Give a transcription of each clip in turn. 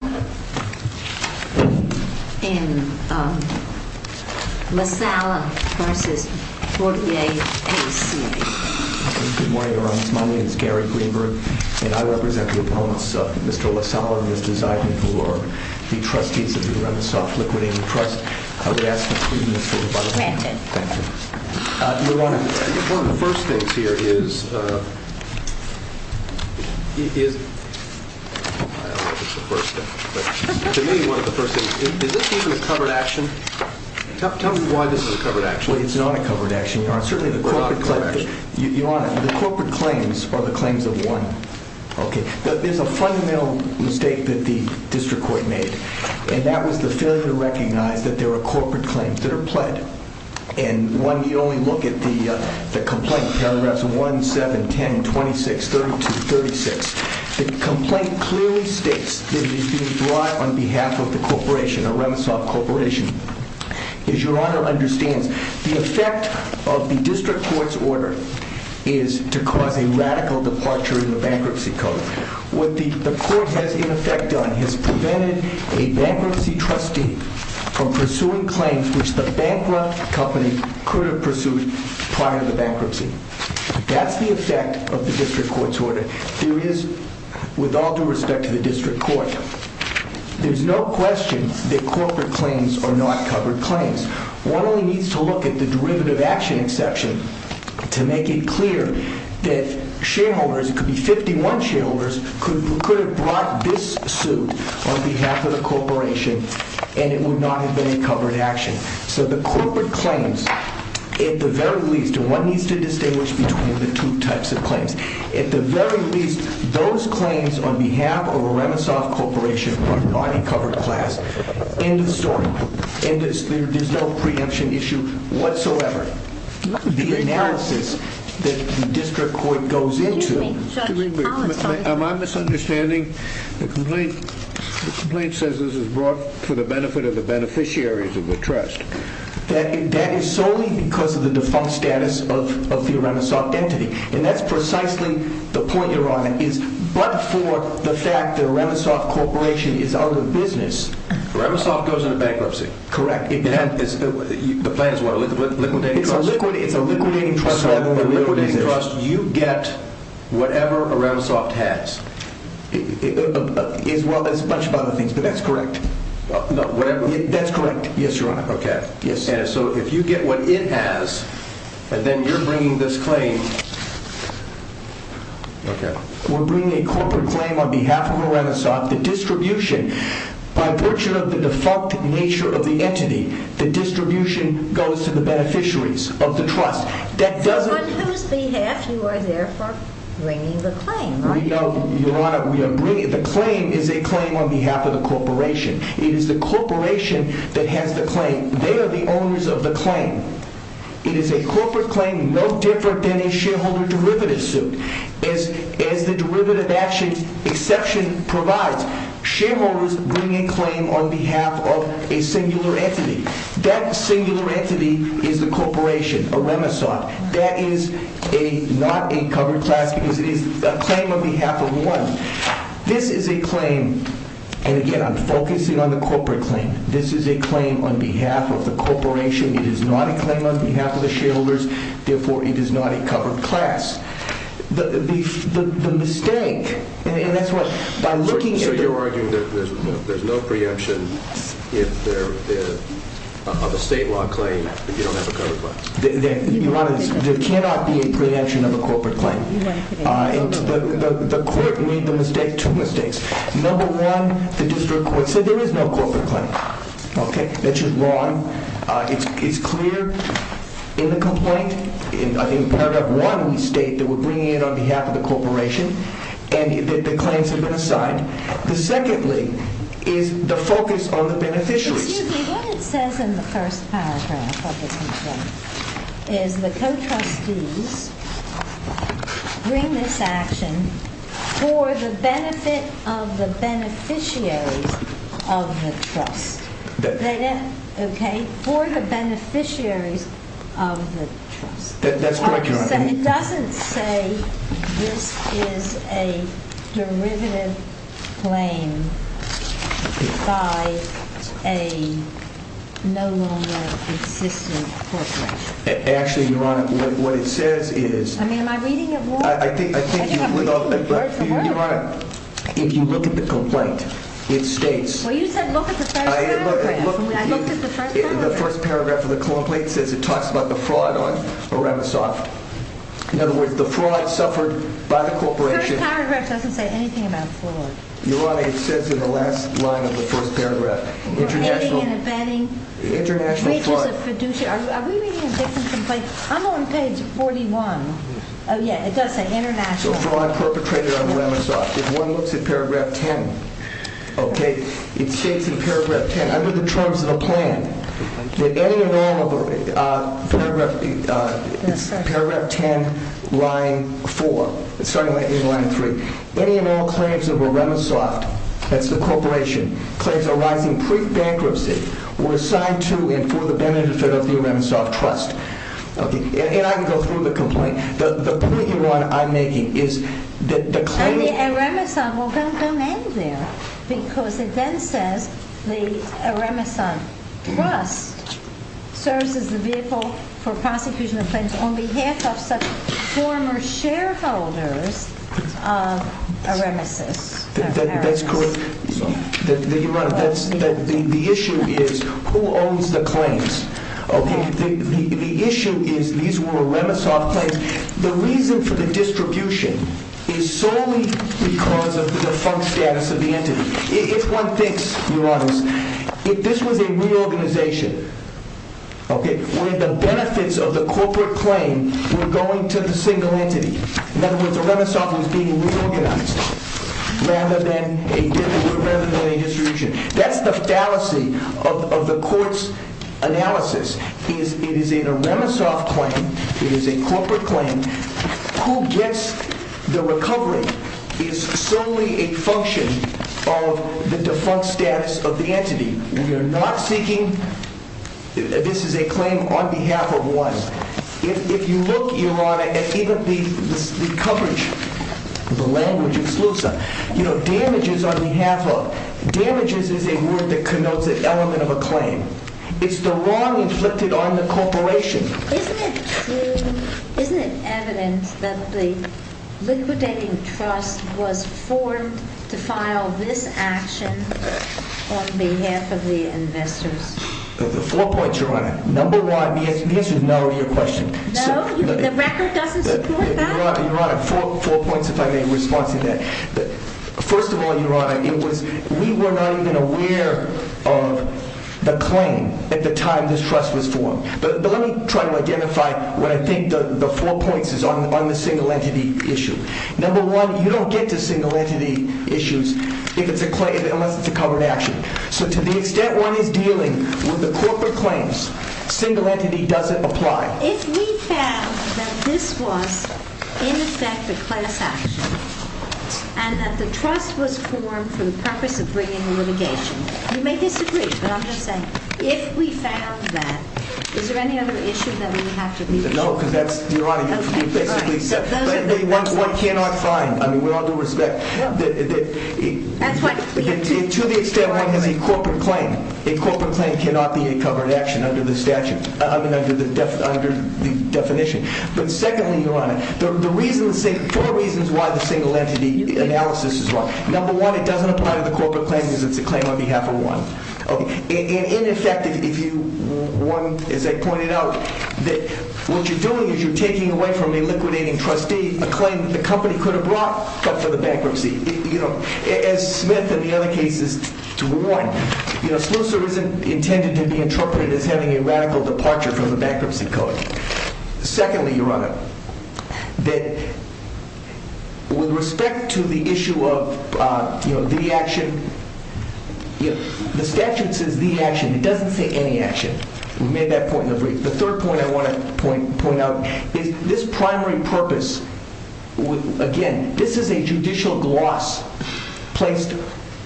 Good morning Your Honor, my name is Gary Greenberg and I represent the opponents of Mr. LaSala and his desire for the trustees of the Remessoff Liquidating Trust. I would ask for three minutes Your Honor, one of the first things here is I don't know if it's the first thing, but to me one of the first things is, is this even a covered action? Tell me why this is a covered action. Well it's not a covered action Your Honor, certainly the corporate claims are the claims of one. There's a fundamental mistake that the district court made and that was the failure to recognize that there are corporate claims that are pled. And when we only look at the complaint paragraphs 1, 7, 10, 26, 32, 36 the complaint clearly states that it is being brought on behalf of the corporation, a Remesoff corporation. As Your Honor understands, the effect of the district court's order is to cause a radical departure in the bankruptcy code. What the court has in effect done is prevented a bankruptcy trustee from pursuing claims which the bankrupt company could have pursued prior to the bankruptcy. That's the effect of the district court's order. There is, with all due respect to the district court, there's no question that corporate claims are not covered claims. One only needs to look at the derivative action exception to make it clear that shareholders it could be 51 shareholders who could have brought this suit on behalf of the corporation and it would not have been a covered action. So the corporate claims, at the very least, and one needs to distinguish between the two types of claims at the very least, those claims on behalf of a Remesoff corporation are not a covered class. End of story. There's no preemption issue whatsoever. The analysis that the district court goes into... Excuse me, Judge Collins... Am I misunderstanding? The complaint says this is brought for the benefit of the beneficiaries of the trust. That is solely because of the defunct status of the Remesoff entity. And that's precisely the point, Your Honor, is but for the fact that a Remesoff corporation is out of business... Remesoff goes into bankruptcy. Correct. The plan is what, a liquidating trust? It's a liquidating trust, Your Honor. You get whatever a Remesoff has. Well, there's a bunch of other things, but that's correct. That's correct, yes, Your Honor. So if you get what it has, and then you're bringing this claim... We're bringing a corporate claim on behalf of a Remesoff. By virtue of the defunct nature of the entity, the distribution goes to the beneficiaries of the trust. On whose behalf you are therefore bringing the claim, are you? No, Your Honor, the claim is a claim on behalf of the corporation. It is the corporation that has the claim. They are the owners of the claim. It is a corporate claim no different than a shareholder derivative suit. As the derivative action exception provides, shareholders bring a claim on behalf of a singular entity. That singular entity is the corporation, a Remesoff. That is not a covered class because it is a claim on behalf of one. This is a claim, and again I'm focusing on the corporate claim. This is a claim on behalf of the corporation. It is not a claim on behalf of the shareholders, therefore it is not a covered class. The mistake, and that's what... So you're arguing that there's no preemption of a state law claim if you don't have a covered claim? Your Honor, there cannot be a preemption of a corporate claim. The court made the mistake, two mistakes. Number one, the district court said there is no corporate claim. That's just wrong. It's clear in the complaint. I think in paragraph one we state that we're bringing it on behalf of the corporation and that the claims have been assigned. The secondly is the focus on the beneficiaries. Excuse me, what it says in the first paragraph of the complaint is the co-trustees bring this action for the benefit of the beneficiaries of the trust. Okay, for the beneficiaries of the trust. That's correct, Your Honor. It doesn't say this is a derivative claim by a no longer existing corporation. Actually, Your Honor, what it says is... I mean, am I reading it wrong? I think you read it word for word. Your Honor, if you look at the complaint, it states... Well, you said look at the first paragraph. I looked at the first paragraph. The first paragraph of the complaint says it talks about the fraud on Remesov. In other words, the fraud suffered by the corporation... The first paragraph doesn't say anything about fraud. Your Honor, it says in the last line of the first paragraph. International fraud. Are we reading a different complaint? I'm on page 41. Oh, yeah, it does say international fraud. Fraud perpetrated on Remesov. If one looks at Paragraph 10, okay, it states in Paragraph 10, under the terms of the plan, that any and all of the Paragraph 10, starting in line 3, any and all claims of Remesov, that's the corporation, claims arising pre-bankruptcy were assigned to and for the benefit of the Remesov Trust. And I can go through the complaint. The point, Your Honor, I'm making is that the claim... The Remesov will come in there because it then says the Remesov Trust serves as the vehicle for prosecution of claims on behalf of such former shareholders of Remesov. That's correct. Your Honor, the issue is who owns the claims. Okay. The issue is these were Remesov claims. The reason for the distribution is solely because of the defunct status of the entity. If one thinks, Your Honor, if this was a reorganization, okay, where the benefits of the corporate claim were going to the single entity. In other words, the Remesov was being reorganized rather than a distribution. That's the fallacy of the court's analysis. It is a Remesov claim. It is a corporate claim. Who gets the recovery is solely a function of the defunct status of the entity. We are not seeking... This is a claim on behalf of one. If you look, Your Honor, at even the coverage, the language of SLUSA, you know, damages on behalf of... Damages is a word that connotes an element of a claim. It's the wrong inflicted on the corporation. Isn't it evident that the liquidating trust was formed to file this action on behalf of the investors? Four points, Your Honor. Number one, the answer is no to your question. No? The record doesn't support that? Your Honor, four points if I may respond to that. First of all, Your Honor, we were not even aware of the claim at the time this trust was formed. But let me try to identify what I think the four points is on the single entity issue. Number one, you don't get to single entity issues unless it's a covered action. So to the extent one is dealing with the corporate claims, single entity doesn't apply. If we found that this was, in effect, a class action, and that the trust was formed for the purpose of bringing litigation, you may disagree, but I'm just saying, if we found that, is there any other issue that we would have to deal with? No, because that's, Your Honor, you basically said, but one cannot find, I mean, with all due respect, to the extent one has a corporate claim, a corporate claim cannot be a covered action under the statute, I mean, under the definition. But secondly, Your Honor, the reasons, four reasons why the single entity analysis is wrong. Number one, it doesn't apply to the corporate claim because it's a claim on behalf of one. And in effect, if you, one, as I pointed out, that what you're doing is you're taking away from a liquidating trustee a claim that the company could have brought, but for the bankruptcy. As Smith and the other cases warned, SLUSR isn't intended to be interpreted as having a radical departure from the bankruptcy code. Secondly, Your Honor, that with respect to the issue of the action, the statute says the action, it doesn't say any action. We made that point in the brief. The third point I want to point out is this primary purpose, again, this is a judicial gloss placed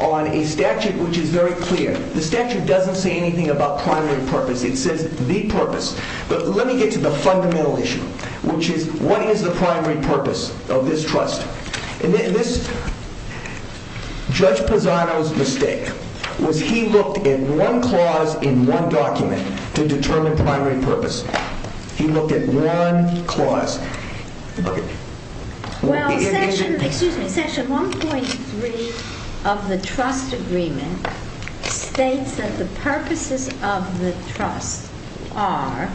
on a statute which is very clear. The statute doesn't say anything about primary purpose. It says the purpose. But let me get to the fundamental issue, which is what is the primary purpose of this trust? In this, Judge Pisano's mistake was he looked at one clause in one document to determine primary purpose. He looked at one clause. Well, section, excuse me, section 1.3 of the trust agreement states that the purposes of the trust are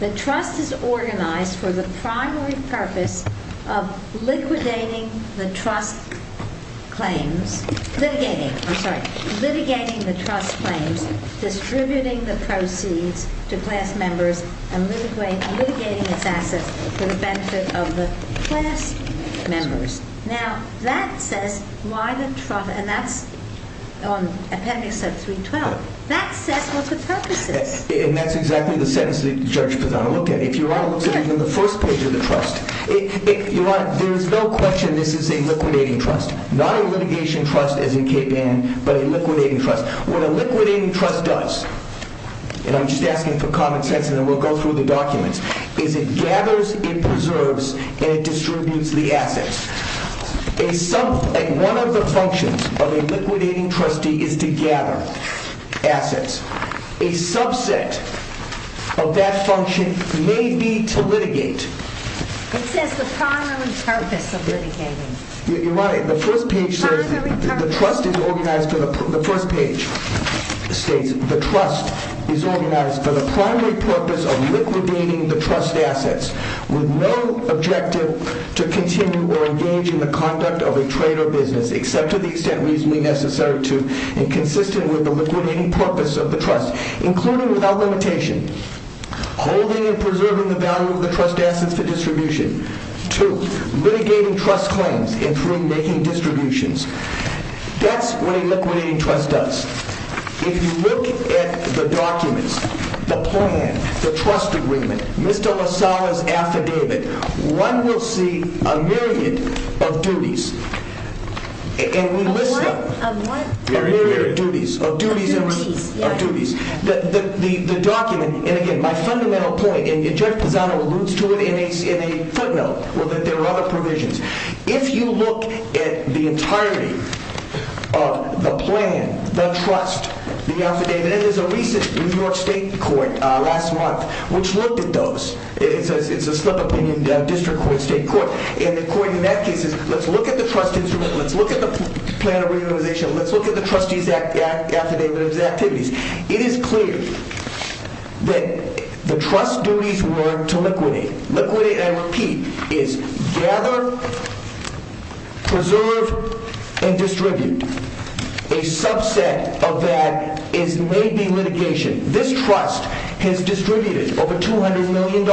the trust is organized for the primary purpose of liquidating the trust claims, litigating, I'm sorry, litigating the trust claims, distributing the proceeds to class members, and litigating its assets for the benefit of the class members. Now, that says why the trust, and that's on appendix 3.12. That says what the purpose is. And that's exactly the sentence that Judge Pisano looked at. If Your Honor looks at even the first page of the trust, Your Honor, there's no question this is a liquidating trust. Not a litigation trust as in Cape Ann, but a liquidating trust. What a liquidating trust does, and I'm just asking for common sense and then we'll go through the documents, is it gathers, it preserves, and it distributes the assets. One of the functions of a liquidating trustee is to gather assets. A subset of that function may be to litigate. It says the primary purpose of litigating. Your Honor, the first page says the trust is organized, the first page states the trust is organized for the primary purpose of liquidating the trust assets with no objective to continue or engage in the conduct of a trade or business, except to the extent reasonably necessary to and consistent with the liquidating purpose of the trust, including without limitation, holding and preserving the value of the trust assets for distribution. Two, litigating trust claims, and three, making distributions. That's what a liquidating trust does. If you look at the documents, the plan, the trust agreement, Mr. Lozada's affidavit, one will see a myriad of duties, and we list them. A myriad of duties. Of duties. Of duties. The document, and again, my fundamental point, and Judge Pisano alludes to it in a footnote, that there are other provisions. If you look at the entirety of the plan, the trust, the affidavit, and there's a recent New York State court last month which looked at those. It's a slip of the hand district court, state court, and the court in that case is, let's look at the trust instrument, let's look at the plan of realization, let's look at the trustee's affidavit of activities. It is clear that the trust duties were to liquidate. Liquidate and repeat is gather, preserve, and distribute. A subset of that is maybe litigation. This trust has distributed over $200 million.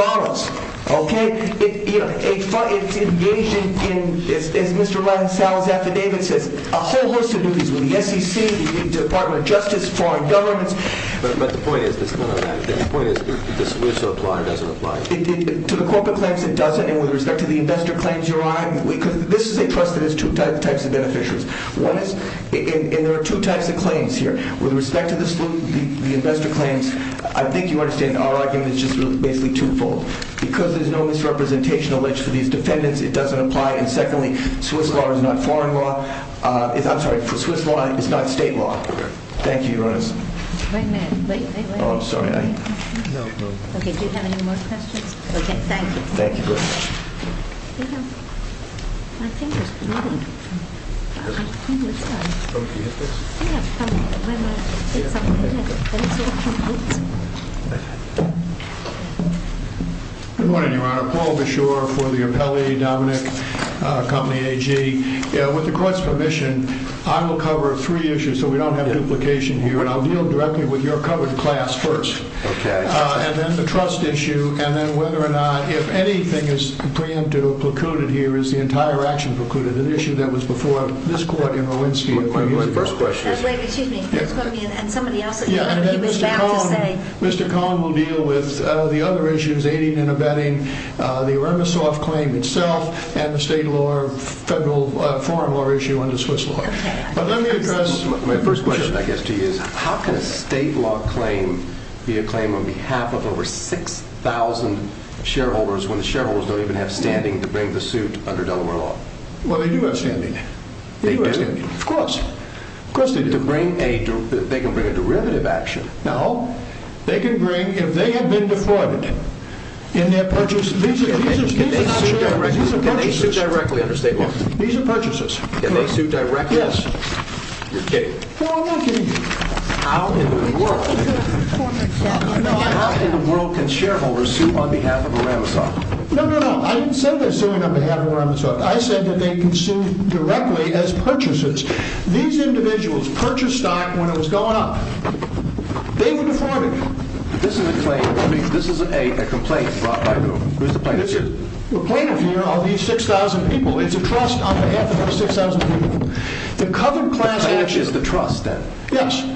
It's engaged in, as Mr. Lozada's affidavit says, a whole list of duties with the SEC, the Department of Justice, foreign governments. But the point is, the point is, the solution doesn't apply. To the corporate claims, it doesn't, and with respect to the investor claims, Your Honor, this is a trust that has two types of beneficiaries. One is, and there are two types of claims here. With respect to the investor claims, I think you understand, our argument is just basically twofold. Because there's no misrepresentation alleged for these defendants, it doesn't apply, and secondly, Swiss law is not foreign law. I'm sorry, for Swiss law, it's not state law. Thank you, Your Honor. Wait a minute. Wait, wait, wait. Oh, I'm sorry. No, no. Okay, do you have any more questions? Okay, thank you. Thank you very much. Good morning, Your Honor. Paul Beshore for the appellee, Dominic, company AG. With the court's permission, I will cover three issues so we don't have duplication here, and I'll deal directly with your covered class first. Okay. And then the trust issue, and then whether or not, if anything is preempted or precluded here, is the entire action precluded, an issue that was before this court in Rolinski. Wait, wait, first question. Wait, excuse me. And somebody else, he was about to say. Mr. Cohn will deal with the other issues, aiding and abetting the Irmasoft claim itself, and the state law, federal foreign law issue under Swiss law. Okay. But let me address my first question, I guess, to you, is how can a state law claim be a claim on behalf of over 6,000 shareholders when the shareholders don't even have standing to bring the suit under Delaware law? Well, they do have standing. They do? Of course. Of course they do. To bring a, they can bring a derivative action. No, they can bring, if they have been defrauded in their purchase, these are not shares. Can they sue directly under state law? These are purchases. Can they sue directly? Yes. You're kidding. No, I'm not kidding. How in the world can shareholders sue on behalf of Irmasoft? No, no, no. I didn't say they're suing on behalf of Irmasoft. I said that they can sue directly as purchases. These individuals purchased stock when it was going up. They were defrauded. This is a complaint brought by whom? Who's the plaintiff here? The plaintiff here are these 6,000 people. It's a trust on behalf of those 6,000 people. The covered class action. The cash is the trust then? Yes.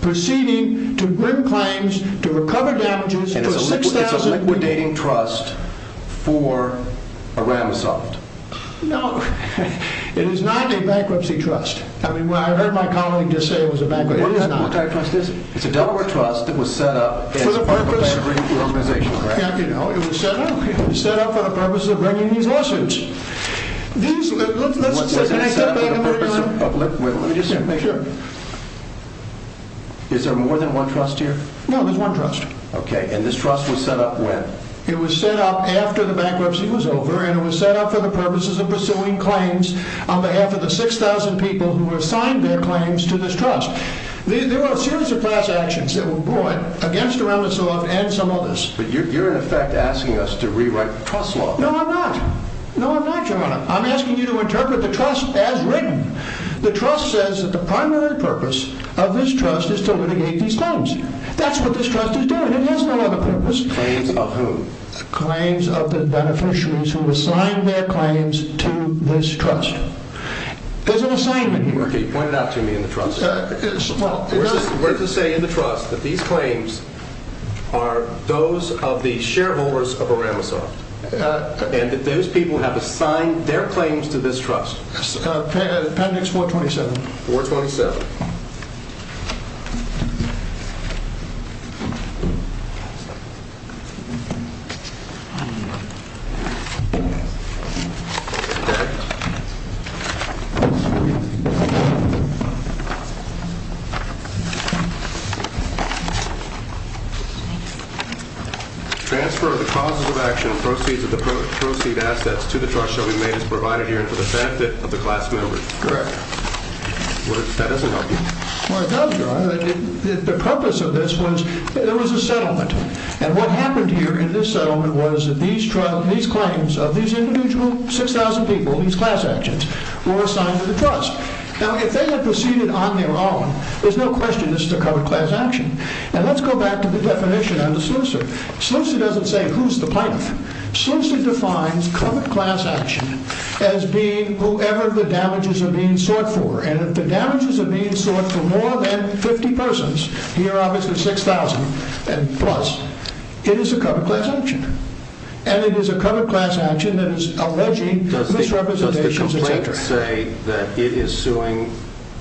Proceeding to grim claims to recover damages for 6,000 people. And it's a liquidating trust for Irmasoft? No. It is not a bankruptcy trust. I mean, I heard my colleague just say it was a bankruptcy. It is not. What kind of trust is it? It's a Delaware trust that was set up as part of a bankruptcy organization, correct? Yeah, you know, it was set up. It was set up for the purpose of bringing these lawsuits. Let me just make sure. Is there more than one trust here? No, there's one trust. Okay, and this trust was set up when? It was set up after the bankruptcy was over, and it was set up for the purposes of pursuing claims on behalf of the 6,000 people who have signed their claims to this trust. There are a series of class actions that were brought against Irmasoft and some others. But you're in effect asking us to rewrite the trust law. No, I'm not. No, I'm not. I'm asking you to interpret the trust as written. The trust says that the primary purpose of this trust is to litigate these claims. That's what this trust is doing. It has no other purpose. Claims of whom? Claims of the beneficiaries who assigned their claims to this trust. There's an assignment here. Okay, point it out to me in the trust. We're to say in the trust that these claims are those of the shareholders of Irmasoft and that those people have assigned their claims to this trust. Appendix 427. 427. Okay. Transfer of the causes of action and proceeds of the proceeds assets to the trust shall be made as provided here for the benefit of the class members. Correct. That doesn't help you. Well, it does, Your Honor. The purpose of this was there was a settlement. And what happened here in this settlement was that these claims of these individual 6,000 people, these class actions, were assigned to the trust. Now, if they had proceeded on their own, there's no question this is a covert class action. And let's go back to the definition under Sluicer. Sluicer doesn't say who's the plaintiff. Sluicer defines covert class action as being whoever the damages are being sought for. And if the damages are being sought for more than 50 persons, here obviously 6,000 plus, it is a covert class action. And it is a covert class action that is alleging misrepresentations, etc. Does the complaint say that it is suing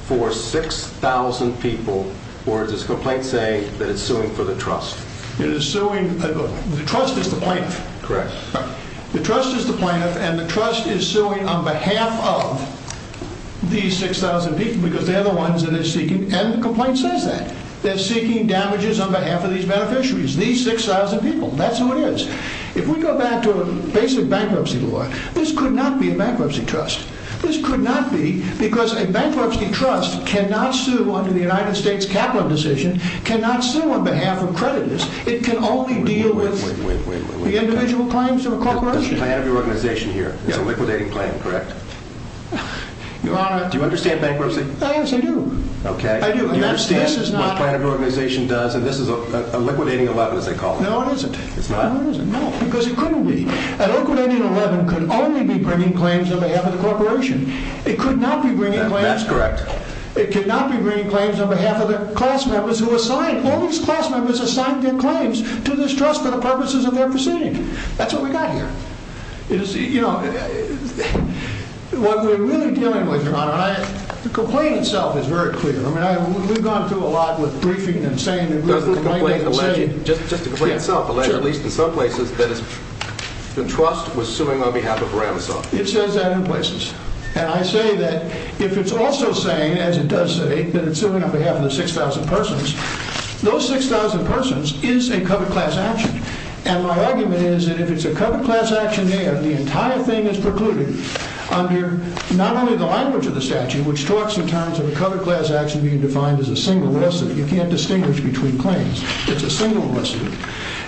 for 6,000 people or does the complaint say that it's suing for the trust? It is suing. The trust is the plaintiff. Correct. The trust is the plaintiff of these 6,000 people because they're the ones that it's seeking. And the complaint says that. They're seeking damages on behalf of these beneficiaries, these 6,000 people. That's who it is. If we go back to a basic bankruptcy law, this could not be a bankruptcy trust. This could not be because a bankruptcy trust cannot sue under the United States Capital Decision, cannot sue on behalf of creditors. It can only deal with the individual claims of a corporation. It's a liquidating claim, correct? Your Honor... Do you understand bankruptcy? Yes, I do. Okay. Do you understand what a plan of your organization does? And this is a liquidating 11, as they call it. No, it isn't. It's not? No, because it couldn't be. A liquidating 11 could only be bringing claims on behalf of the corporation. It could not be bringing claims... That's correct. It could not be bringing claims on behalf of the class members who assigned, all these class members assigned their claims to this trust for the purposes of their proceeding. That's what we got here. You know... What we're really dealing with, Your Honor, the complaint itself is very clear. I mean, we've gone through a lot with briefing and saying... There's a complaint alleging, just the complaint itself, alleging, at least in some places, that the trust was suing on behalf of Ramosoft. It says that in places. And I say that if it's also saying, as it does say, that it's suing on behalf of the 6,000 persons, those 6,000 persons is a covered class action. And my argument is that if it's a covered class action, the entire thing is precluded under not only the language of the statute, which talks in terms of a covered class action being defined as a single lawsuit. You can't distinguish between claims. It's a single lawsuit.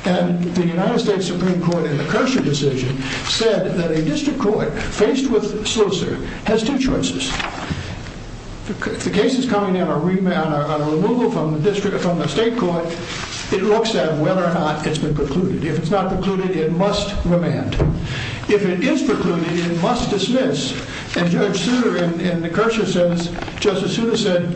And the United States Supreme Court, in the Kershaw decision, said that a district court faced with SLUSR has two choices. If the case is coming in on a removal from the state court, it looks at whether or not it's been precluded. If it's not precluded, it must remand. If it is precluded, it must dismiss. And Judge Souter, in the Kershaw sentence, Justice Souter said,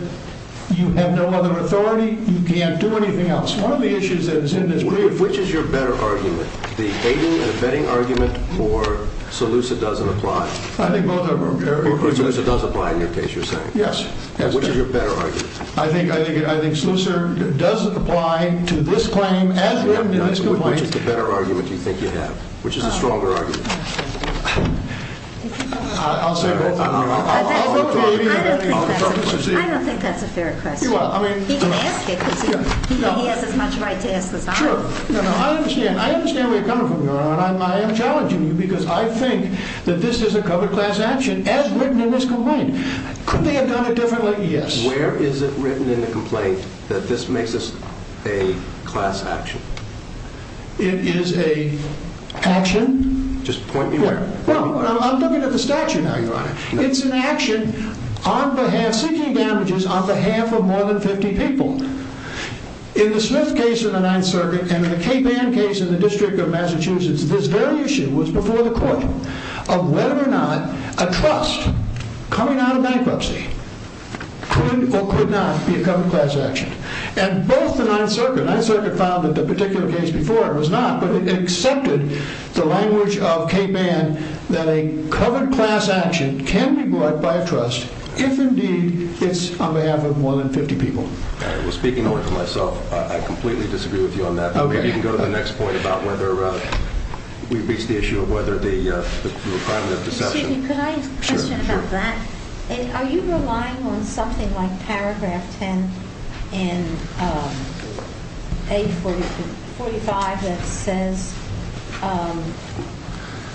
you have no other authority, you can't do anything else. One of the issues that is in this brief... Which is your better argument? The aiding and abetting argument or SLUSR doesn't apply? I think both are very... Or SLUSR does apply in your case, you're saying? Yes. Which is your better argument? I think SLUSR does apply to this claim as written in this complaint. Which is the better argument you think you have? Which is the stronger argument? I'll say both. I don't think that's a fair question. He can ask it because he has as much right to ask the time. Sure. I understand where you're coming from, Your Honor, and I am challenging you because I think that this is a covered class action as written in this complaint. Could they have done it differently? Yes. Where is it written in the complaint that this makes this a class action? It is a action... Just point me where. Well, I'm looking at the statute now, Your Honor. It's an action on behalf... Seeking damages on behalf of more than 50 people. In the Smith case in the Ninth Circuit, and in the Cape Ann case in the District of Massachusetts, of whether or not a trust coming out of bankruptcy could or could not be a covered class action. And both the Ninth Circuit... The Ninth Circuit found that the particular case before it was not, but it accepted the language of Cape Ann that a covered class action can be brought by a trust if indeed it's on behalf of more than 50 people. All right. Well, speaking only for myself, I completely disagree with you on that. You can go to the next point about whether we've reached the issue of whether the requirement of deception... Mr. Sidney, could I ask a question about that? Are you relying on something like paragraph 10 in page 45 that says,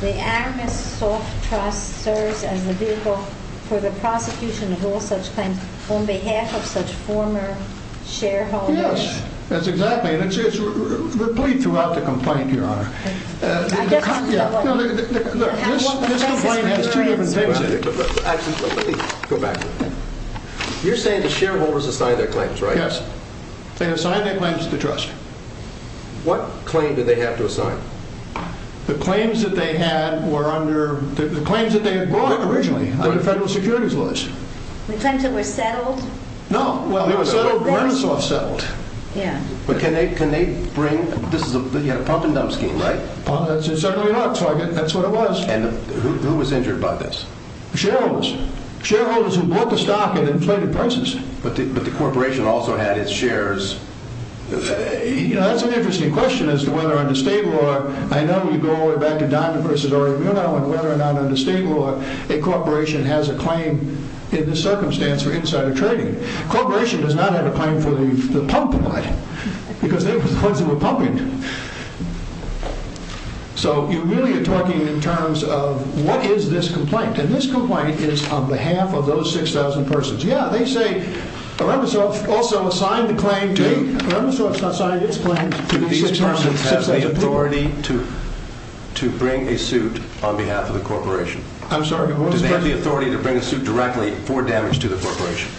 the Aramis Soft Trust serves as the vehicle for the prosecution of all such claims on behalf of such former shareholders? Yes, that's exactly it. It's replied throughout the complaint, Your Honor. I guess... This complaint has two different versions. Go back. You're saying the shareholders assigned their claims, right? Yes. They assigned their claims to the trust. What claim did they have to assign? The claims that they had were under... The claims that they had brought originally were the federal securities laws. The claims that were settled? No, well, Aramis Soft settled. Yeah. But can they bring... You had a pump-and-dump scheme, right? Certainly not. That's what it was. And who was injured by this? Shareholders. Shareholders who bought the stock at inflated prices. But the corporation also had its shares... You know, that's an interesting question as to whether under state law... I know you go all the way back to Donovan v. Oregano and whether or not under state law a corporation has a claim in this circumstance for insider trading. A corporation does not have a claim for the pump, in my opinion, because they were the ones who were pumping. So you really are talking in terms of what is this complaint? And this complaint is on behalf of those 6,000 persons. Yeah, they say Aramis Soft also assigned the claim to... Aramis Soft's not signed its claim to those 6,000 people. Do these persons have the authority to bring a suit on behalf of the corporation? I'm sorry, what was that? Do they have the authority to bring a suit directly for damage to the corporation?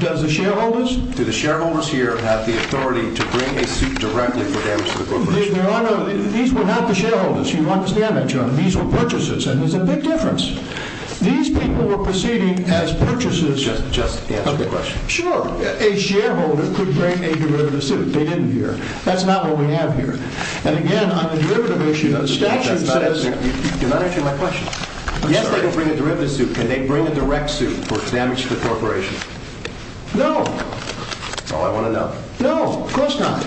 Does the shareholders? Do the shareholders here have the authority to bring a suit directly for damage to the corporation? There are no... These were not the shareholders. You understand that, John. These were purchasers. And there's a big difference. These people were proceeding as purchasers. Just answer the question. Sure. A shareholder could bring a derivative suit. They didn't here. That's not what we have here. And again, on the derivative issue, the statute says... You're not answering my question. Yes, they can bring a derivative suit. Can they bring a direct suit for damage to the corporation? No. That's all I want to know. No, of course not.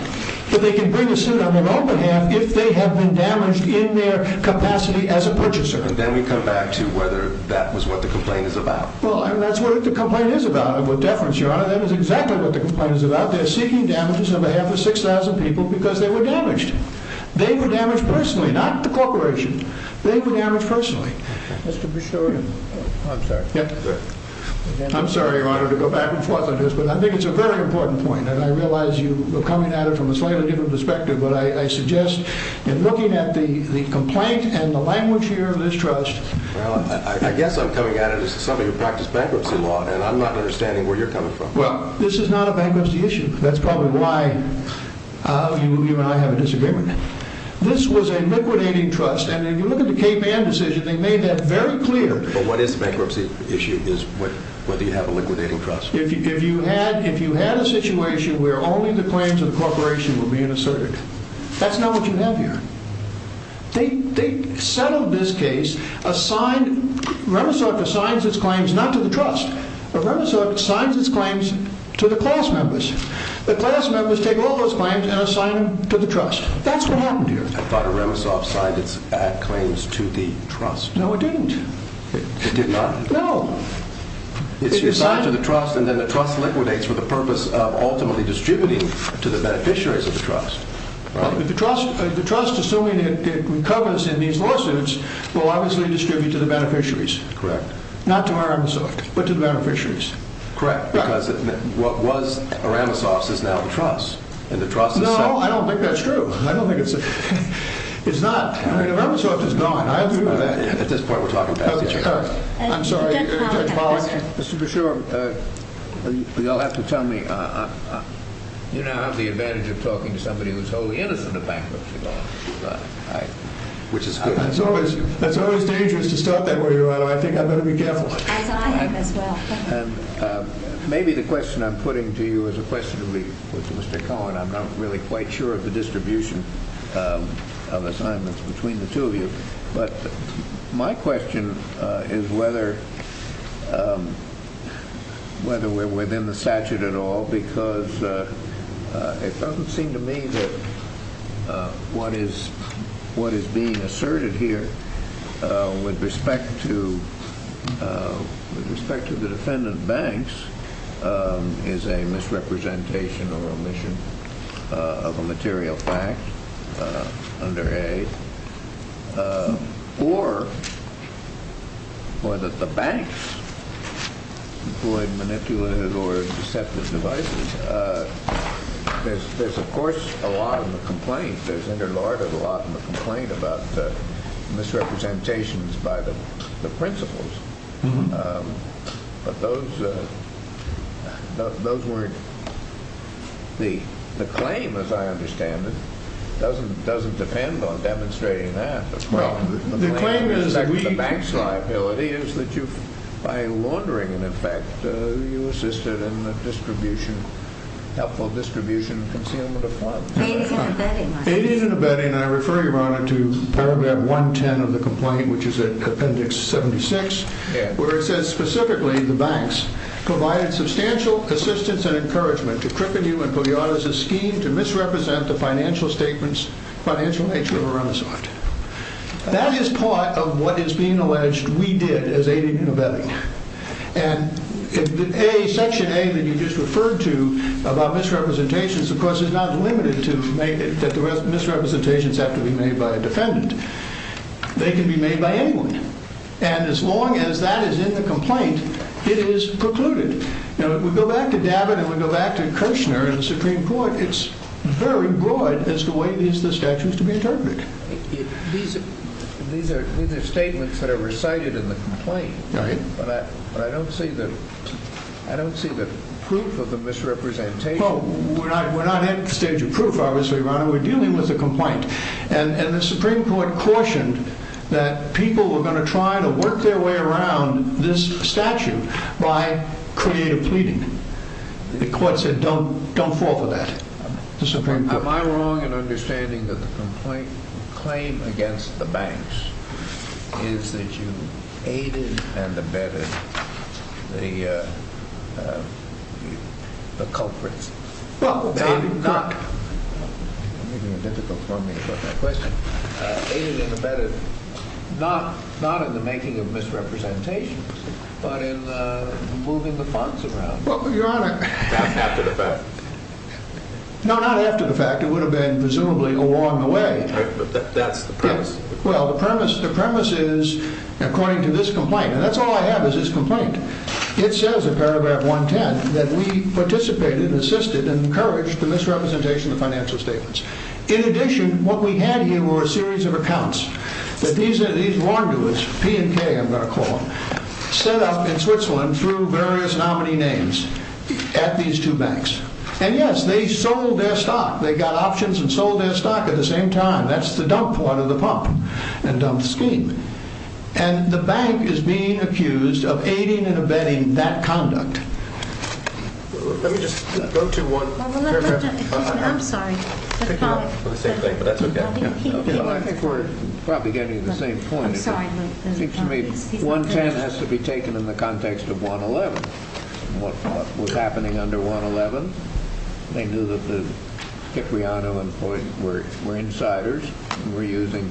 But they can bring a suit on their own behalf if they have been damaged in their capacity as a purchaser. And then we come back to whether that was what the complaint is about. Well, that's what the complaint is about. And with deference, Your Honor, that is exactly what the complaint is about. They're seeking damages on behalf of 6,000 people because they were damaged. They were damaged personally, not the corporation. They were damaged personally. Mr. Bustorian. I'm sorry. I'm sorry, Your Honor, to go back and forth on this, but I think it's a very important point, and I realize you are coming at it from a slightly different perspective, but I suggest in looking at the complaint and the language here of this trust... Well, I guess I'm coming at it as somebody who practiced bankruptcy law, and I'm not understanding where you're coming from. Well, this is not a bankruptcy issue. That's probably why you and I have a disagreement. This was a liquidating trust, and if you look at the Cayman decision, they made that very clear. But what is the bankruptcy issue is whether you have a liquidating trust. If you had a situation where only the claims of the corporation were being asserted, that's not what you have here. They settled this case. Remesov assigns its claims not to the trust, but Remesov assigns its claims to the class members. The class members take all those claims and assign them to the trust. That's what happened here. I thought Remesov signed its claims to the trust. No, it didn't. It did not? No. It's assigned to the trust, and then the trust liquidates for the purpose of ultimately distributing to the beneficiaries of the trust. The trust, assuming it recovers in these lawsuits, will obviously distribute to the beneficiaries. Correct. Not to Remesov, but to the beneficiaries. Correct, because what was Remesov's is now the trust, and the trust is settled. No, I don't think that's true. I don't think it's... It's not. I mean, Remesov is gone. I agree with that. At this point, we're talking past each other. I'm sorry. Judge Pollack? Mr. Beshore, you'll have to tell me. You now have the advantage of talking to somebody who's wholly innocent of bankruptcy law, which is good. That's always dangerous to start that way, Your Honor. I think I'd better be careful. As I am as well. And maybe the question I'm putting to you is a question to be put to Mr. Cohen. I'm not really quite sure of the distribution of assignments between the two of you, but my question is whether we're within the statute at all, because it doesn't seem to me that what is being asserted here with respect to the defendant Banks is a misrepresentation or omission of a material fact under A, or whether the Banks employed manipulative or deceptive devices. There's, of course, a lot in the complaint. There's interlarded a lot in the complaint about misrepresentations by the principals. But those weren't the claim, as I understand it. It doesn't depend on demonstrating that. The claim is that the Banks liability is that by laundering, in effect, you assisted in the helpful distribution and concealment of funds. It is an abetting. It is an abetting, and I refer you, Your Honor, to paragraph 110 of the complaint, which is at appendix 76, where it says, specifically, the Banks provided substantial assistance and encouragement to Kripenew and Pugliazzi's scheme to misrepresent the financial statements, financial nature of a renaissance. That is part of what is being alleged we did as aiding and abetting. And section A that you just referred to about misrepresentations, of course, is not limited to that the misrepresentations have to be made by a defendant. They can be made by anyone. And as long as that is in the complaint, it is precluded. If we go back to David and we go back to Kirchner and the Supreme Court, it is very broad as to the way the statute is to be interpreted. These are statements that are recited in the complaint. Right. But I don't see the proof of the misrepresentation. Oh, we are not at the stage of proof, obviously, Your Honor. We are dealing with a complaint. And the Supreme Court cautioned that people were going to try to work their way around this statute by creative pleading. The court said, don't fall for that. Am I wrong in understanding that the complaint claim against the banks is that you aided and abetted the culprits? Well, maybe not. You are making it difficult for me to put that question. Aided and abetted, not in the making of misrepresentations, but in moving the funds around. Well, Your Honor. After the fact. No, not after the fact. It would have been presumably along the way. Right, but that's the premise. Well, the premise is, according to this complaint, and that's all I have is this complaint. It says in paragraph 110 that we participated and assisted and encouraged the misrepresentation of the financial statements. In addition, what we had here were a series of accounts. These were warned to us, P and K I'm going to call them, set up in Switzerland through various nominee names at these two banks. And yes, they sold their stock. They got options and sold their stock at the same time. That's the dump part of the pump and dump scheme. And the bank is being accused of aiding and abetting that conduct. Let me just go to one paragraph. I'm sorry. We're the same thing, but that's okay. I think we're probably getting the same point. I'm sorry. It seems to me 110 has to be taken in the context of 111. What was happening under 111, they knew that the Cipriano and Floyd were insiders and were using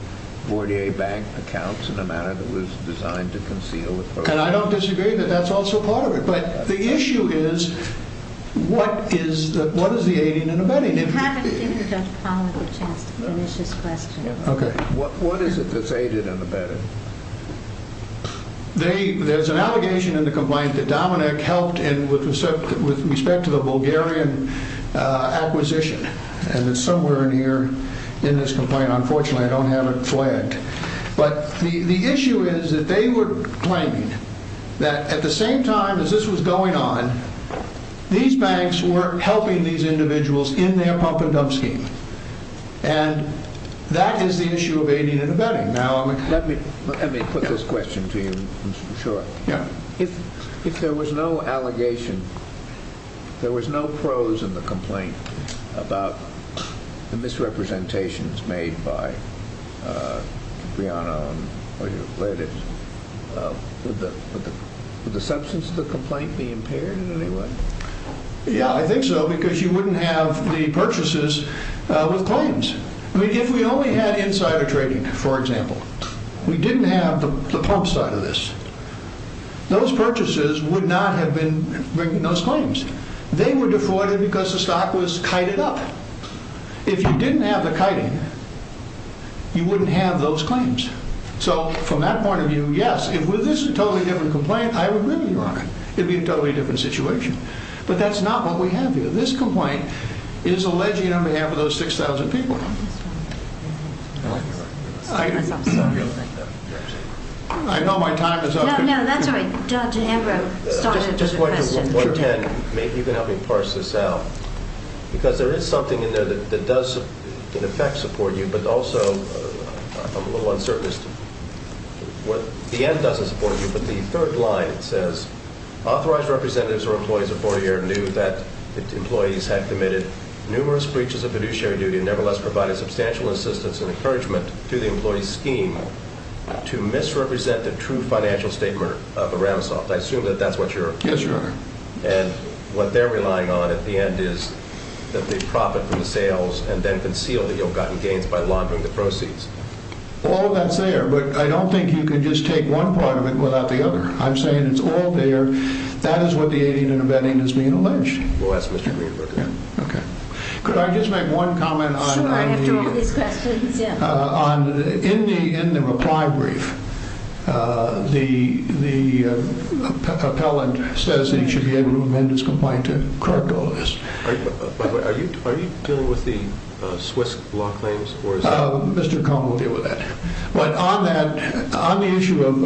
Bordier Bank accounts in a manner that was designed to conceal. And I don't disagree that that's also part of it. But the issue is, what is the aiding and abetting? You haven't given Judge Palmer the chance to finish his question. Okay. What is it that's aiding and abetting? There's an allegation in the complaint that Dominic helped with respect to the Bulgarian acquisition. And it's somewhere in here in this complaint. Unfortunately, I don't have it flagged. But the issue is that they were claiming that at the same time as this was going on, these banks were helping these individuals in their pump and dump scheme. And that is the issue of aiding and abetting. Let me put this question to you, Mr. Shor. If there was no allegation, there was no prose in the complaint about the misrepresentations made by Cipriano and Floyd, would the substance of the complaint be impaired in any way? Yeah, I think so, because you wouldn't have the purchases with claims. I mean, if we only had insider trading, for example, we didn't have the pump side of this. Those purchases would not have been bringing those claims. They were defrauded because the stock was kited up. If you didn't have the kiting, you wouldn't have those claims. So, from that point of view, yes. If this was a totally different complaint, I would agree with you on it. It would be a totally different situation. But that's not what we have here. This complaint is alleging on behalf of those 6,000 people. I know my time is up. No, no, that's all right. Dr. Ambrose started the question. Just point to 110. Maybe you can help me parse this out. Because there is something in there that does, in effect, support you, but also, I'm a little uncertain as to what the end doesn't support you. But the third line says, authorized representatives or employees of Fortier knew that employees had committed numerous breaches of fiduciary duty and, nevertheless, provided substantial assistance and encouragement to the employee's scheme to misrepresent the true financial statement of Aramisoft. I assume that that's what you're arguing. Yes, Your Honor. And what they're relying on at the end is that they profit from the sales and then conceal the ill-gotten gains by laundering the proceeds. Well, that's there. But I don't think you can just take one part of it without the other. I'm saying it's all there. That is what the aiding and abetting is being alleged. We'll ask Mr. Greenberg again. Okay. Could I just make one comment on the- Sure, after all these questions. In the reply brief, the appellant says that he should be able to amend his complaint to correct all of this. By the way, are you dealing with the Swiss law claims? Mr. Cone will deal with that. But on the issue of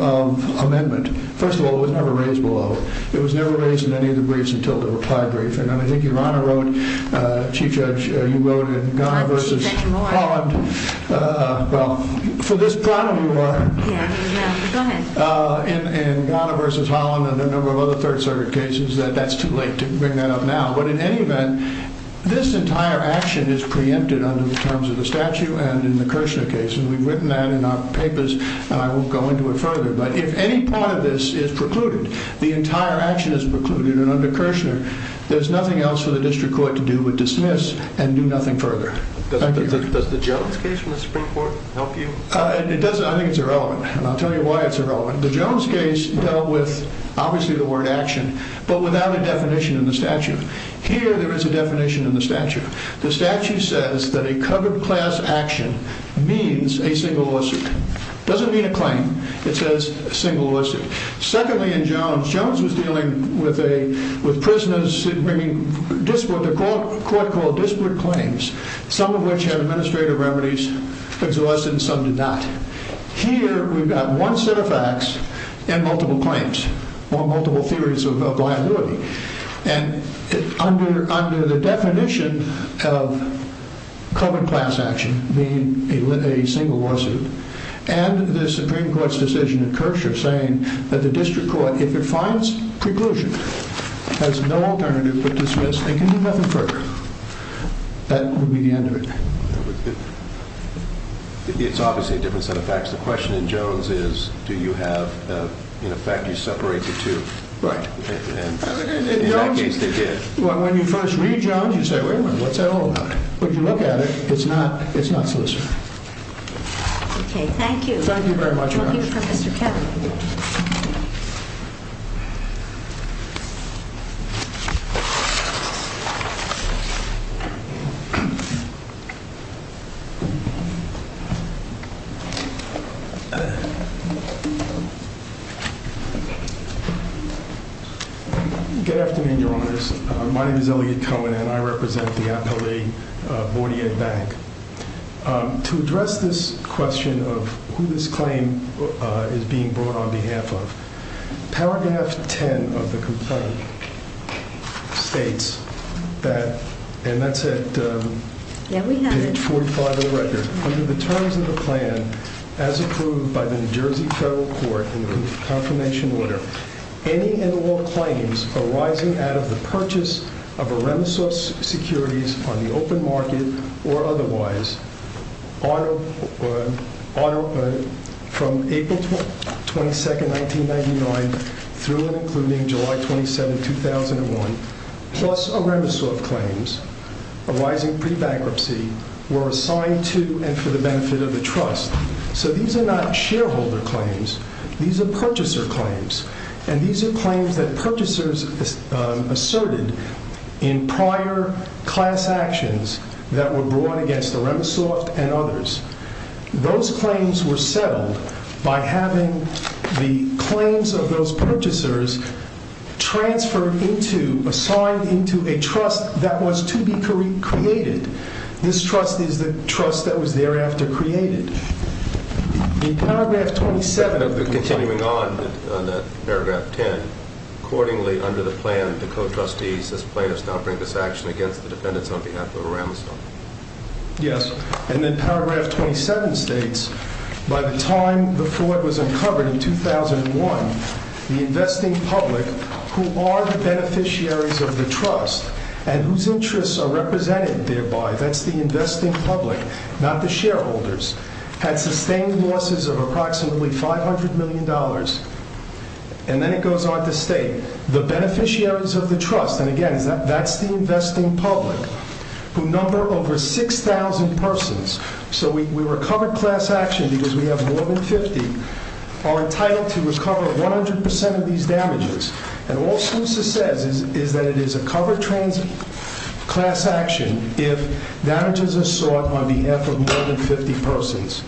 amendment, first of all, it was never raised below. It was never raised in any of the briefs until the reply brief. And I think Your Honor wrote, Chief Judge, you wrote in Ghana versus Holland. I should say more. Well, for this problem you are. Yeah, go ahead. In Ghana versus Holland and a number of other Third Circuit cases that that's too late to bring that up now. But in any event, this entire action is preempted under the terms of the statute and in the Kirshner case. And we've written that in our papers. And I won't go into it further. But if any part of this is precluded, the entire action is precluded. And under Kirshner, there's nothing else for the district court to do but dismiss and do nothing further. Does the Jones case from the Supreme Court help you? It doesn't. I think it's irrelevant. And I'll tell you why it's irrelevant. The Jones case dealt with obviously the word action, but without a definition in the statute. Here there is a definition in the statute. The statute says that a covered class action means a single lawsuit. It doesn't mean a claim. It says a single lawsuit. Secondly, in Jones, Jones was dealing with prisoners bringing disparate, a court called disparate claims, some of which had administrative remedies exhausted and some did not. Here we've got one set of facts and multiple claims or multiple theories of liability. And under the definition of covered class action, meaning a single lawsuit, and the Supreme Court's decision in Kirshner saying that the district court, if it finds preclusion, has no alternative but dismiss and can do nothing further, that would be the end of it. It's obviously a different set of facts. The question in Jones is do you have, in effect, you separate the two. Right. In that case, they did. When you first read Jones, you say, wait a minute, what's that all about? But if you look at it, it's not solicitor. Okay. Thank you. Thank you very much. Thank you. Good afternoon, Your Honors. My name is Eliot Cohen, and I represent the appellee Board of Ed Bank. To address this question of who this claim is being brought on behalf of, paragraph 10 of the complaint states that, and that's at page 45 of the record, under the terms of the plan as approved by the New Jersey federal court in the confirmation order, any and all claims arising out of the purchase of Eremesov securities on the open market or otherwise from April 22, 1999 through and including July 27, 2001, plus Eremesov claims arising pre-bankruptcy were assigned to and for the benefit of the trust. So these are not shareholder claims. These are purchaser claims, and these are claims that purchasers asserted in prior class actions that were brought against Eremesov and others. Those claims were settled by having the claims of those purchasers transferred into, assigned into a trust that was to be created. This trust is the trust that was thereafter created. In paragraph 27 of the complaint... Continuing on that paragraph 10, accordingly under the plan, the co-trustees as plaintiffs now bring this action against the defendants on behalf of Eremesov. Yes, and then paragraph 27 states, by the time the floor was uncovered in 2001, the investing public, who are the beneficiaries of the trust, and whose interests are represented thereby, that's the investing public, not the shareholders, had sustained losses of approximately $500 million, and then it goes on to state, the beneficiaries of the trust, and again, that's the investing public, who number over 6,000 persons, so we recovered class action because we have more than 50, are entitled to recover 100% of these damages, and all SLUSA says is that it is a covered class action if damages are sought on behalf of more than 50 persons,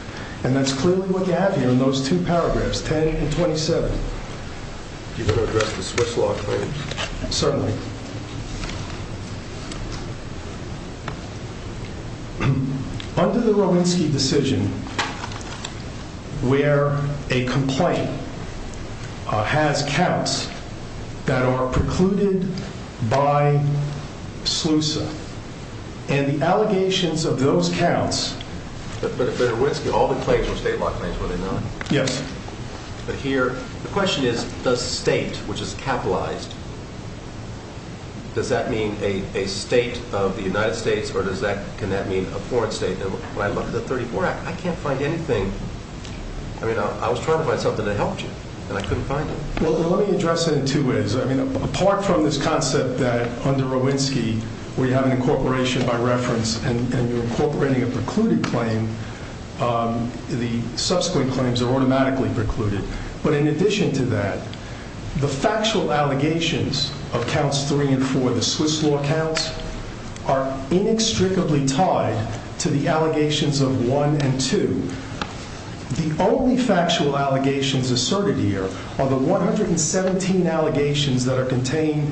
and that's clearly what you have here in those two paragraphs, 10 and 27. You better address the Swiss law claims. Certainly. Under the Rowinsky decision, where a complaint has counts that are precluded by SLUSA, and the allegations of those counts... But Rowinsky, all the claims were state law claims, were they not? Yes. But here, the question is, does state, which is capitalized, does that mean a state of the United States, or can that mean a foreign state? When I look at the 34 Act, I can't find anything. I mean, I was trying to find something that helped you, and I couldn't find it. Well, let me address it in two ways. I mean, apart from this concept that under Rowinsky, we have an incorporation by reference, and you're incorporating a precluded claim, the subsequent claims are automatically precluded. But in addition to that, the factual allegations of counts three and four, the Swiss law counts, are inextricably tied to the allegations of one and two. The only factual allegations asserted here are the 117 allegations that are contained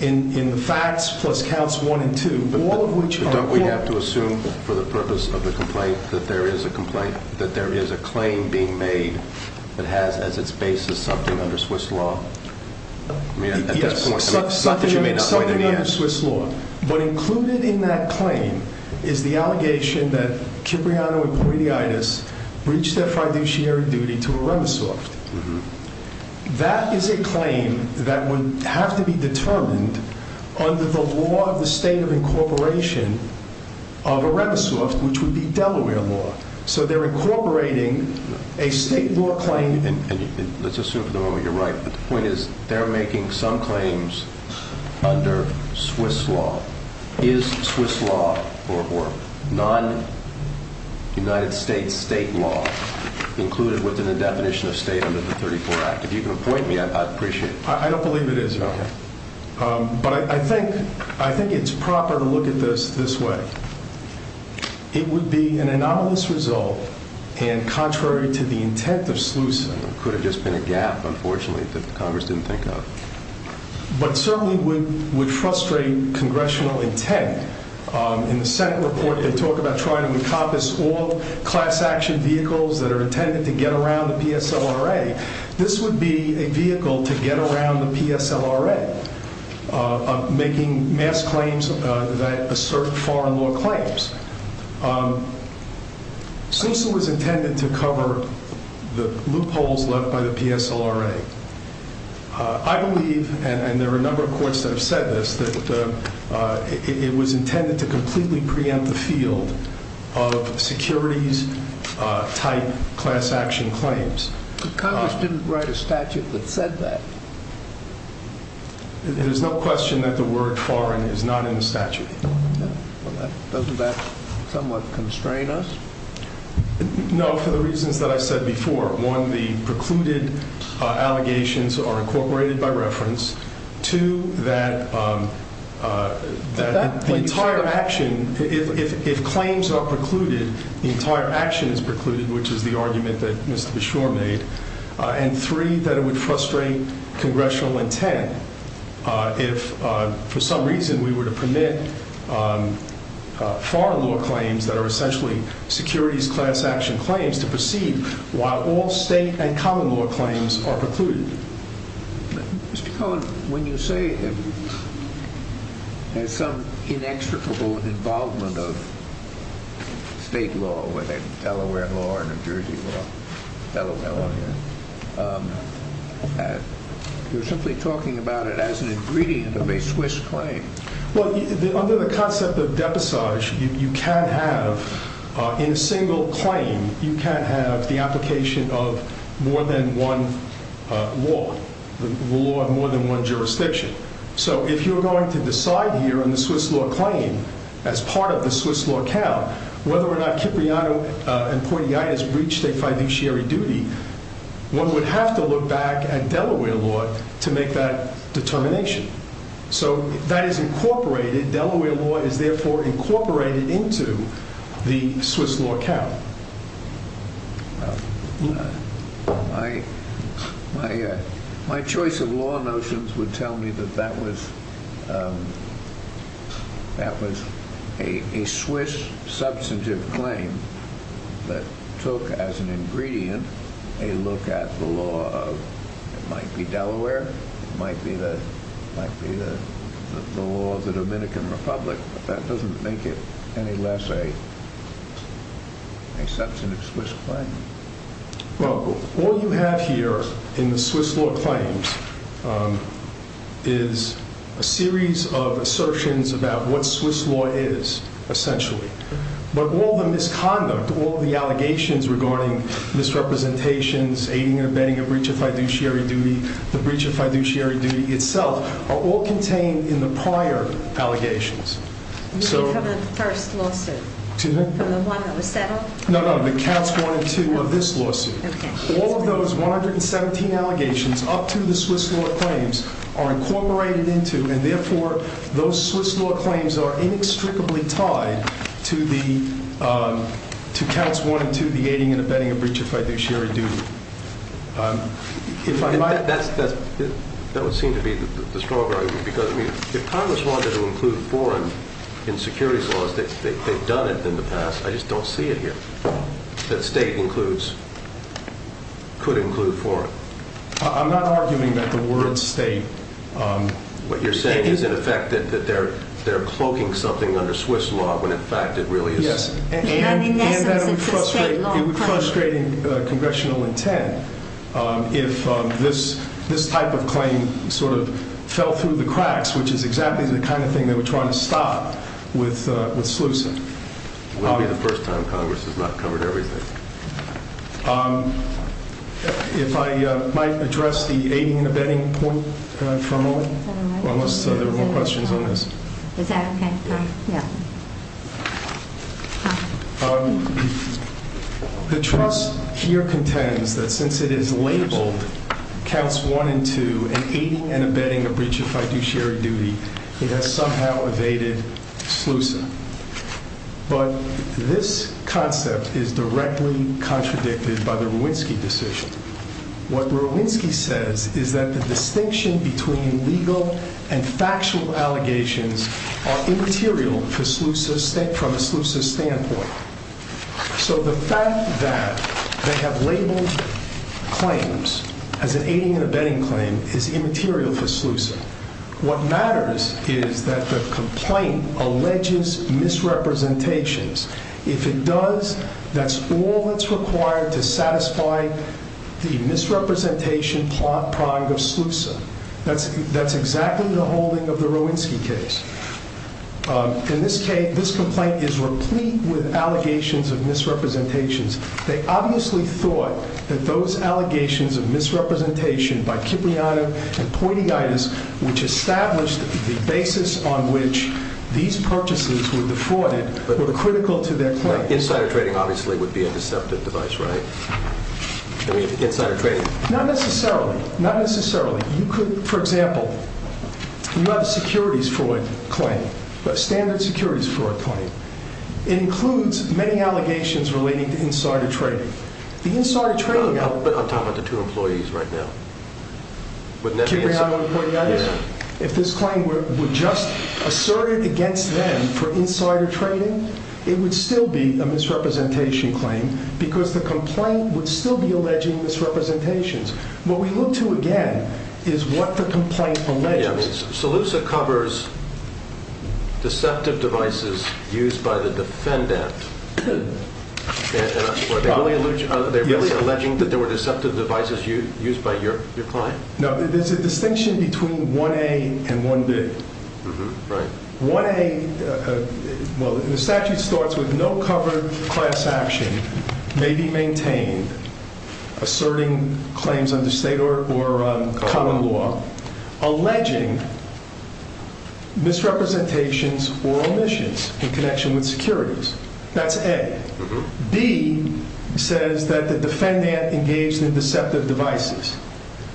in the facts plus counts one and two, all of which are... But don't we have to assume, for the purpose of the complaint, that there is a complaint, that there is a claim being made that has as its basis something under Swiss law? I mean, at this point... Yes, something under Swiss law. But included in that claim is the allegation that Cipriano and Poitiatis breached their fiduciary duty to Aremisoft. That is a claim that would have to be determined under the law of the state of incorporation of Aremisoft, which would be Delaware law. So they're incorporating a state law claim... Let's assume for the moment you're right, but the point is they're making some claims under Swiss law. Is Swiss law, or non-United States state law, included within the definition of state under the 34 Act? If you can point me, I'd appreciate it. I don't believe it is, Your Honor. But I think it's proper to look at this this way. It would be an anomalous result, and contrary to the intent of SLUSA... It could have just been a gap, unfortunately, that Congress didn't think of. But certainly would frustrate congressional intent. In the Senate report, they talk about trying to encompass all class action vehicles that are intended to get around the PSLRA. This would be a vehicle to get around the PSLRA, making mass claims that assert foreign law claims. SLUSA was intended to cover the loopholes left by the PSLRA. I believe, and there are a number of courts that have said this, that it was intended to completely preempt the field of securities-type class action claims. But Congress didn't write a statute that said that. There's no question that the word foreign is not in the statute. Doesn't that somewhat constrain us? No, for the reasons that I said before. One, the precluded allegations are incorporated by reference. Two, that the entire action, if claims are precluded, the entire action is precluded, which is the argument that Mr. Beshore made. And three, that it would frustrate congressional intent if for some reason we were to permit foreign law claims that are essentially securities class action claims to proceed while all state and common law claims are precluded. Mr. Cohen, when you say there's some inextricable involvement of state law, whether it's Delaware law or New Jersey law, Delaware law here, you're simply talking about it as an ingredient of a Swiss claim. Well, under the concept of depassage, you can't have, in a single claim, you can't have the application of more than one law, the law of more than one jurisdiction. So if you're going to decide here on the Swiss law claim as part of the Swiss law count, whether or not Cipriano and Poitier has reached a fiduciary duty, one would have to look back at Delaware law to make that determination. So that is incorporated. Delaware law is therefore incorporated into the Swiss law count. My choice of law notions would tell me that that was a Swiss substantive claim that took as an ingredient a look at the law of, it might be Delaware, it might be the law of the Dominican Republic, but that doesn't make it any less a substantive Swiss claim. Well, all you have here in the Swiss law claims is a series of assertions about what Swiss law is, essentially. But all the misconduct, all the allegations regarding misrepresentations, aiding and abetting a breach of fiduciary duty, the breach of fiduciary duty itself, are all contained in the prior allegations. You mean from the first lawsuit? Excuse me? From the one that was settled? No, no, the counts one and two of this lawsuit. Okay. All of those 117 allegations up to the Swiss law claims are incorporated into, and therefore those Swiss law claims are inextricably tied to counts one and two, the aiding and abetting a breach of fiduciary duty. That would seem to be the strong argument, because if Congress wanted to include foreign in securities laws, they've done it in the past, I just don't see it here, that state includes, could include foreign. I'm not arguing that the word state. What you're saying is in effect that they're cloaking something under Swiss law when in fact it really is. Yes. It would frustrate congressional intent if this type of claim sort of fell through the cracks, which is exactly the kind of thing they were trying to stop with SLUSA. Probably the first time Congress has not covered everything. If I might address the aiding and abetting point for a moment, unless there were more questions on this. Is that okay? Yeah. The trust here contends that since it is labeled counts one and two and aiding and abetting a breach of fiduciary duty, it has somehow evaded SLUSA. But this concept is directly contradicted by the Rowinsky decision. What Rowinsky says is that the distinction between legal and factual allegations are immaterial for SLUSA state from a SLUSA standpoint. So the fact that they have labeled claims as an aiding and abetting claim is immaterial for SLUSA. What matters is that the complaint alleges misrepresentations. If it does, that's all that's required to satisfy the misrepresentation plot product of SLUSA. That's exactly the holding of the Rowinsky case. In this case, this complaint is replete with allegations of misrepresentations. They obviously thought that those allegations of misrepresentation by Kipriano and Pointyitis, which established the basis on which these purchases were defrauded, were critical to their claim. Insider trading obviously would be a deceptive device, right? I mean, insider trading. Not necessarily. Not necessarily. You could, for example, you have a securities fraud claim, a standard securities fraud claim. It includes many allegations relating to insider trading. The insider trading— But on top of the two employees right now. Kipriano and Pointyitis? Yeah. If this claim were just asserted against them for insider trading, it would still be a misrepresentation claim because the complaint would still be alleging misrepresentations. What we look to, again, is what the complaint alleges. Salusa covers deceptive devices used by the defendant. Are they really alleging that there were deceptive devices used by your client? No, there's a distinction between 1A and 1B. Right. 1A—well, the statute starts with no covered class action may be maintained asserting claims under state or common law, alleging misrepresentations or omissions in connection with securities. That's A. B says that the defendant engaged in deceptive devices.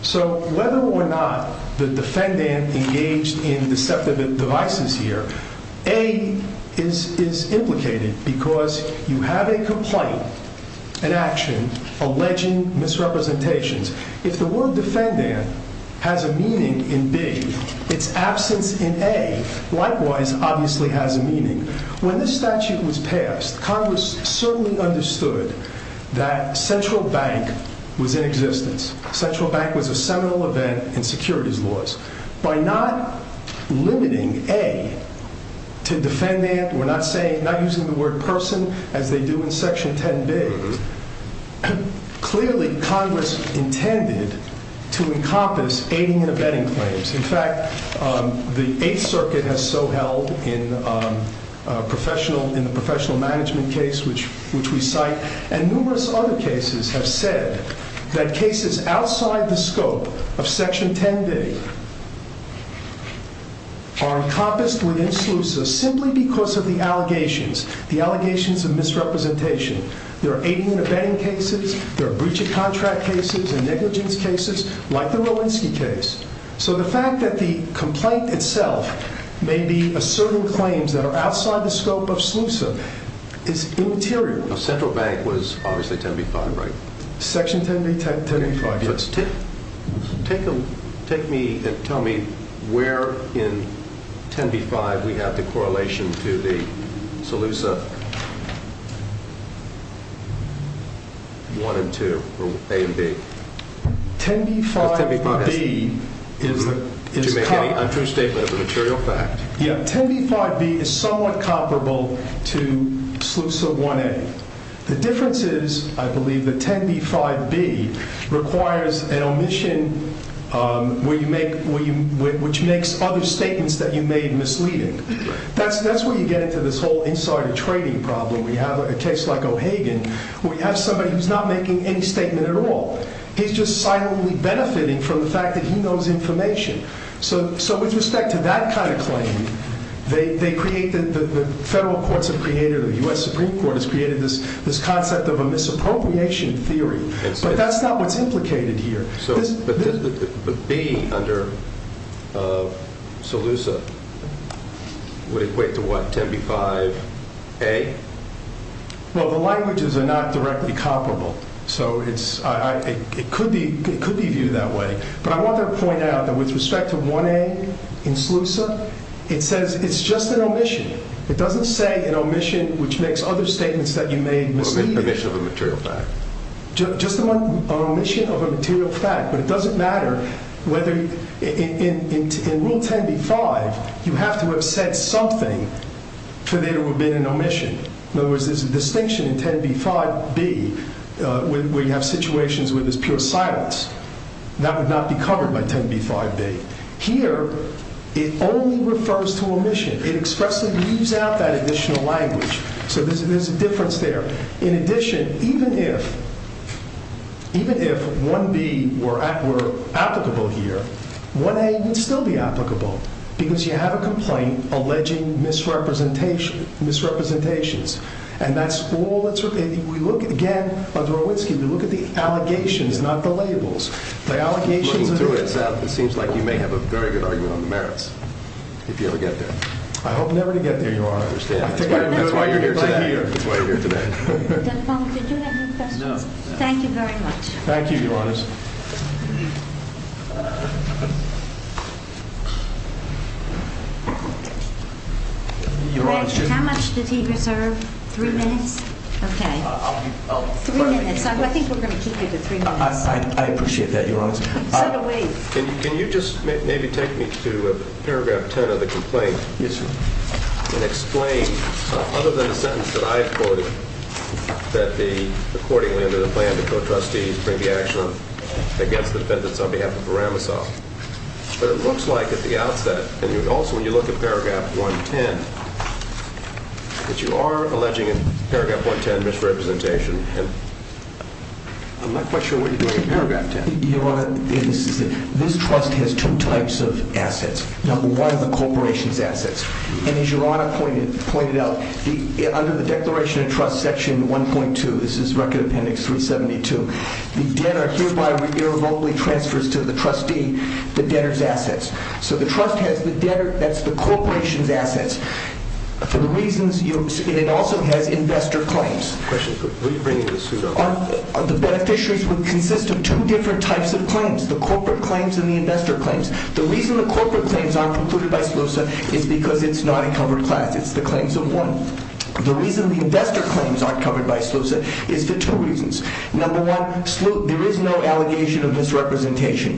So whether or not the defendant engaged in deceptive devices here, A is implicated because you have a complaint, an action, alleging misrepresentations. If the word defendant has a meaning in B, its absence in A likewise obviously has a meaning. When this statute was passed, Congress certainly understood that central bank was in existence. Central bank was a seminal event in securities laws. By not limiting A to defendant, we're not using the word person as they do in Section 10B, clearly Congress intended to encompass aiding and abetting claims. In fact, the Eighth Circuit has so held in the professional management case, which we cite, and numerous other cases have said that cases outside the scope of Section 10B are encompassed within SLUSA simply because of the allegations, the allegations of misrepresentation. There are aiding and abetting cases, there are breach of contract cases and negligence cases, like the Rolinski case. So the fact that the complaint itself may be asserting claims that are outside the scope of SLUSA is immaterial. Central bank was obviously 10B-5, right? Section 10B-5. Take me and tell me where in 10B-5 we have the correlation to the SLUSA 1 and 2, or A and B. 10B-5B is somewhat comparable to SLUSA 1A. The difference is, I believe, that 10B-5B requires an omission which makes other statements that you made misleading. That's where you get into this whole insider trading problem we have at a case like O'Hagan, where you have somebody who's not making any statement at all. He's just silently benefiting from the fact that he knows information. So with respect to that kind of claim, the federal courts have created, the U.S. Supreme Court has created this concept of a misappropriation theory, but that's not what's implicated here. But the B under SLUSA would equate to what, 10B-5A? Well, the languages are not directly comparable. So it could be viewed that way. But I want to point out that with respect to 1A in SLUSA, it says it's just an omission. It doesn't say an omission which makes other statements that you made misleading. An omission of a material fact. Just an omission of a material fact. But it doesn't matter whether, in Rule 10B-5, you have to have said something for there to have been an omission. In other words, there's a distinction in 10B-5B where you have situations where there's pure silence. That would not be covered by 10B-5B. Here, it only refers to omission. It expressively leaves out that additional language. So there's a difference there. In addition, even if 1B were applicable here, 1A would still be applicable because you have a complaint alleging misrepresentations. And that's all that's repeated. We look at, again, under Orwinsky, we look at the allegations, not the labels. Looking through it, it seems like you may have a very good argument on the merits, if you ever get there. I hope never to get there, Your Honor. That's why you're here today. Did you have any questions? No. Thank you very much. Thank you, Your Honors. Greg, how much did he reserve? Three minutes? Okay. Three minutes. I think we're going to keep you to three minutes. I appreciate that, Your Honor. Can you just maybe take me to Paragraph 10 of the complaint? Yes, sir. And explain, other than the sentence that I quoted, that the accordingly under the plan to co-trustees bring the action against the defendants on behalf of Baramosov. But it looks like at the outset, and also when you look at Paragraph 110, that you are alleging in Paragraph 110 misrepresentation. I'm not quite sure what you're doing in Paragraph 10. Your Honor, this trust has two types of assets. Number one, the corporation's assets. And as Your Honor pointed out, under the Declaration of Trust Section 1.2, this is Record Appendix 372, the debtor hereby irrevocably transfers to the trustee the debtor's assets. So the trust has the debtor, that's the corporation's assets, for the reasons, and it also has investor claims. Question, who are you bringing this suit up to? The beneficiaries would consist of two different types of claims, the corporate claims and the investor claims. The reason the corporate claims aren't included by SLUSA is because it's not a covered class. It's the claims of one. The reason the investor claims aren't covered by SLUSA is for two reasons. Number one, there is no allegation of misrepresentation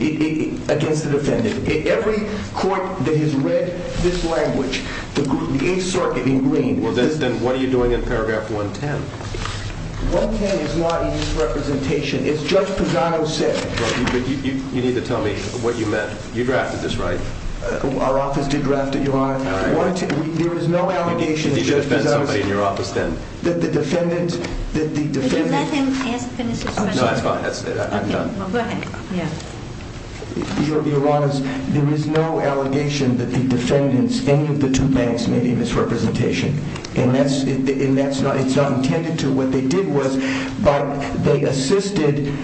against the defendant. Every court that has read this language, the Eighth Circuit in Green... Well, then what are you doing in paragraph 110? 110 is not a misrepresentation. It's Judge Pugano's saying. But you need to tell me what you meant. You drafted this, right? Our office did draft it, Your Honor. There is no allegation that Judge Pugano... You need to defend somebody in your office, then. That the defendant... Could you let him finish his question? No, that's fine. I'm done. Go ahead. Your Honor, there is no allegation that the defendants, any of the two banks, made a misrepresentation. And it's not intended to. What they did was, they assisted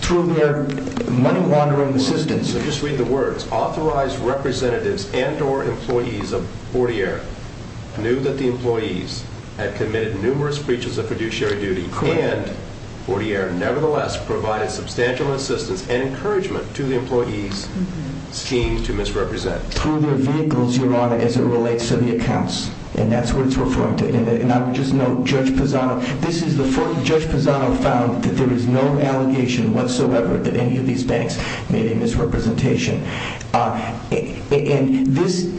through their money-laundering assistance. So just read the words. Authorized representatives and or employees of Fortier knew that the employees had committed numerous breaches of fiduciary duty, and Fortier nevertheless provided substantial assistance and encouragement to the employees seen to misrepresent. Through their vehicles, Your Honor, as it relates to the accounts. And that's what it's referring to. And I would just note, Judge Pugano... This is the first Judge Pugano found that there is no allegation whatsoever that any of these banks made a misrepresentation. And this...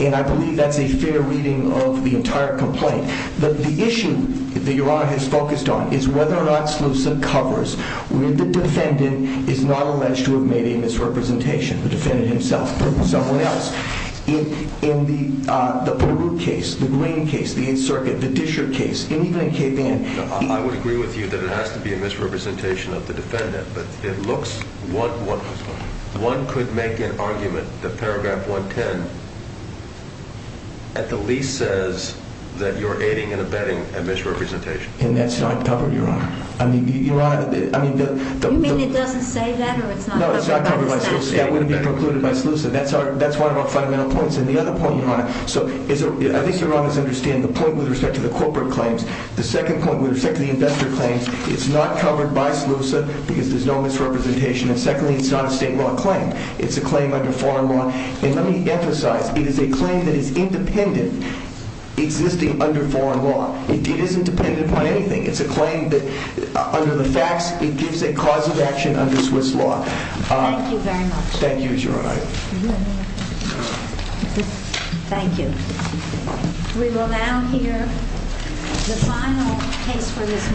And I believe that's a fair reading of the entire complaint. But the issue that Your Honor has focused on is whether or not SLUSA covers where the defendant is not alleged to have made a misrepresentation. The defendant himself, someone else. In the Peru case, the Green case, the 8th Circuit, the Disher case, and even in Cape Ann... I would agree with you that it has to be a misrepresentation of the defendant. But it looks... One could make an argument that paragraph 110 at the least says And that's not covered, Your Honor. I mean, Your Honor... You mean it doesn't say that? No, it's not covered by SLUSA. That wouldn't be precluded by SLUSA. That's one of our fundamental points. And the other point, Your Honor... I think Your Honor must understand the point with respect to the corporate claims, the second point with respect to the investor claims, it's not covered by SLUSA because there's no misrepresentation. And secondly, it's not a state law claim. It's a claim under foreign law. And let me emphasize, it is a claim that is independent existing under foreign law. It isn't dependent on anything. It's a claim that, under the facts, it gives a cause of action under Swiss law. Thank you very much. Thank you, Your Honor. Thank you. We will now hear the final case for this morning.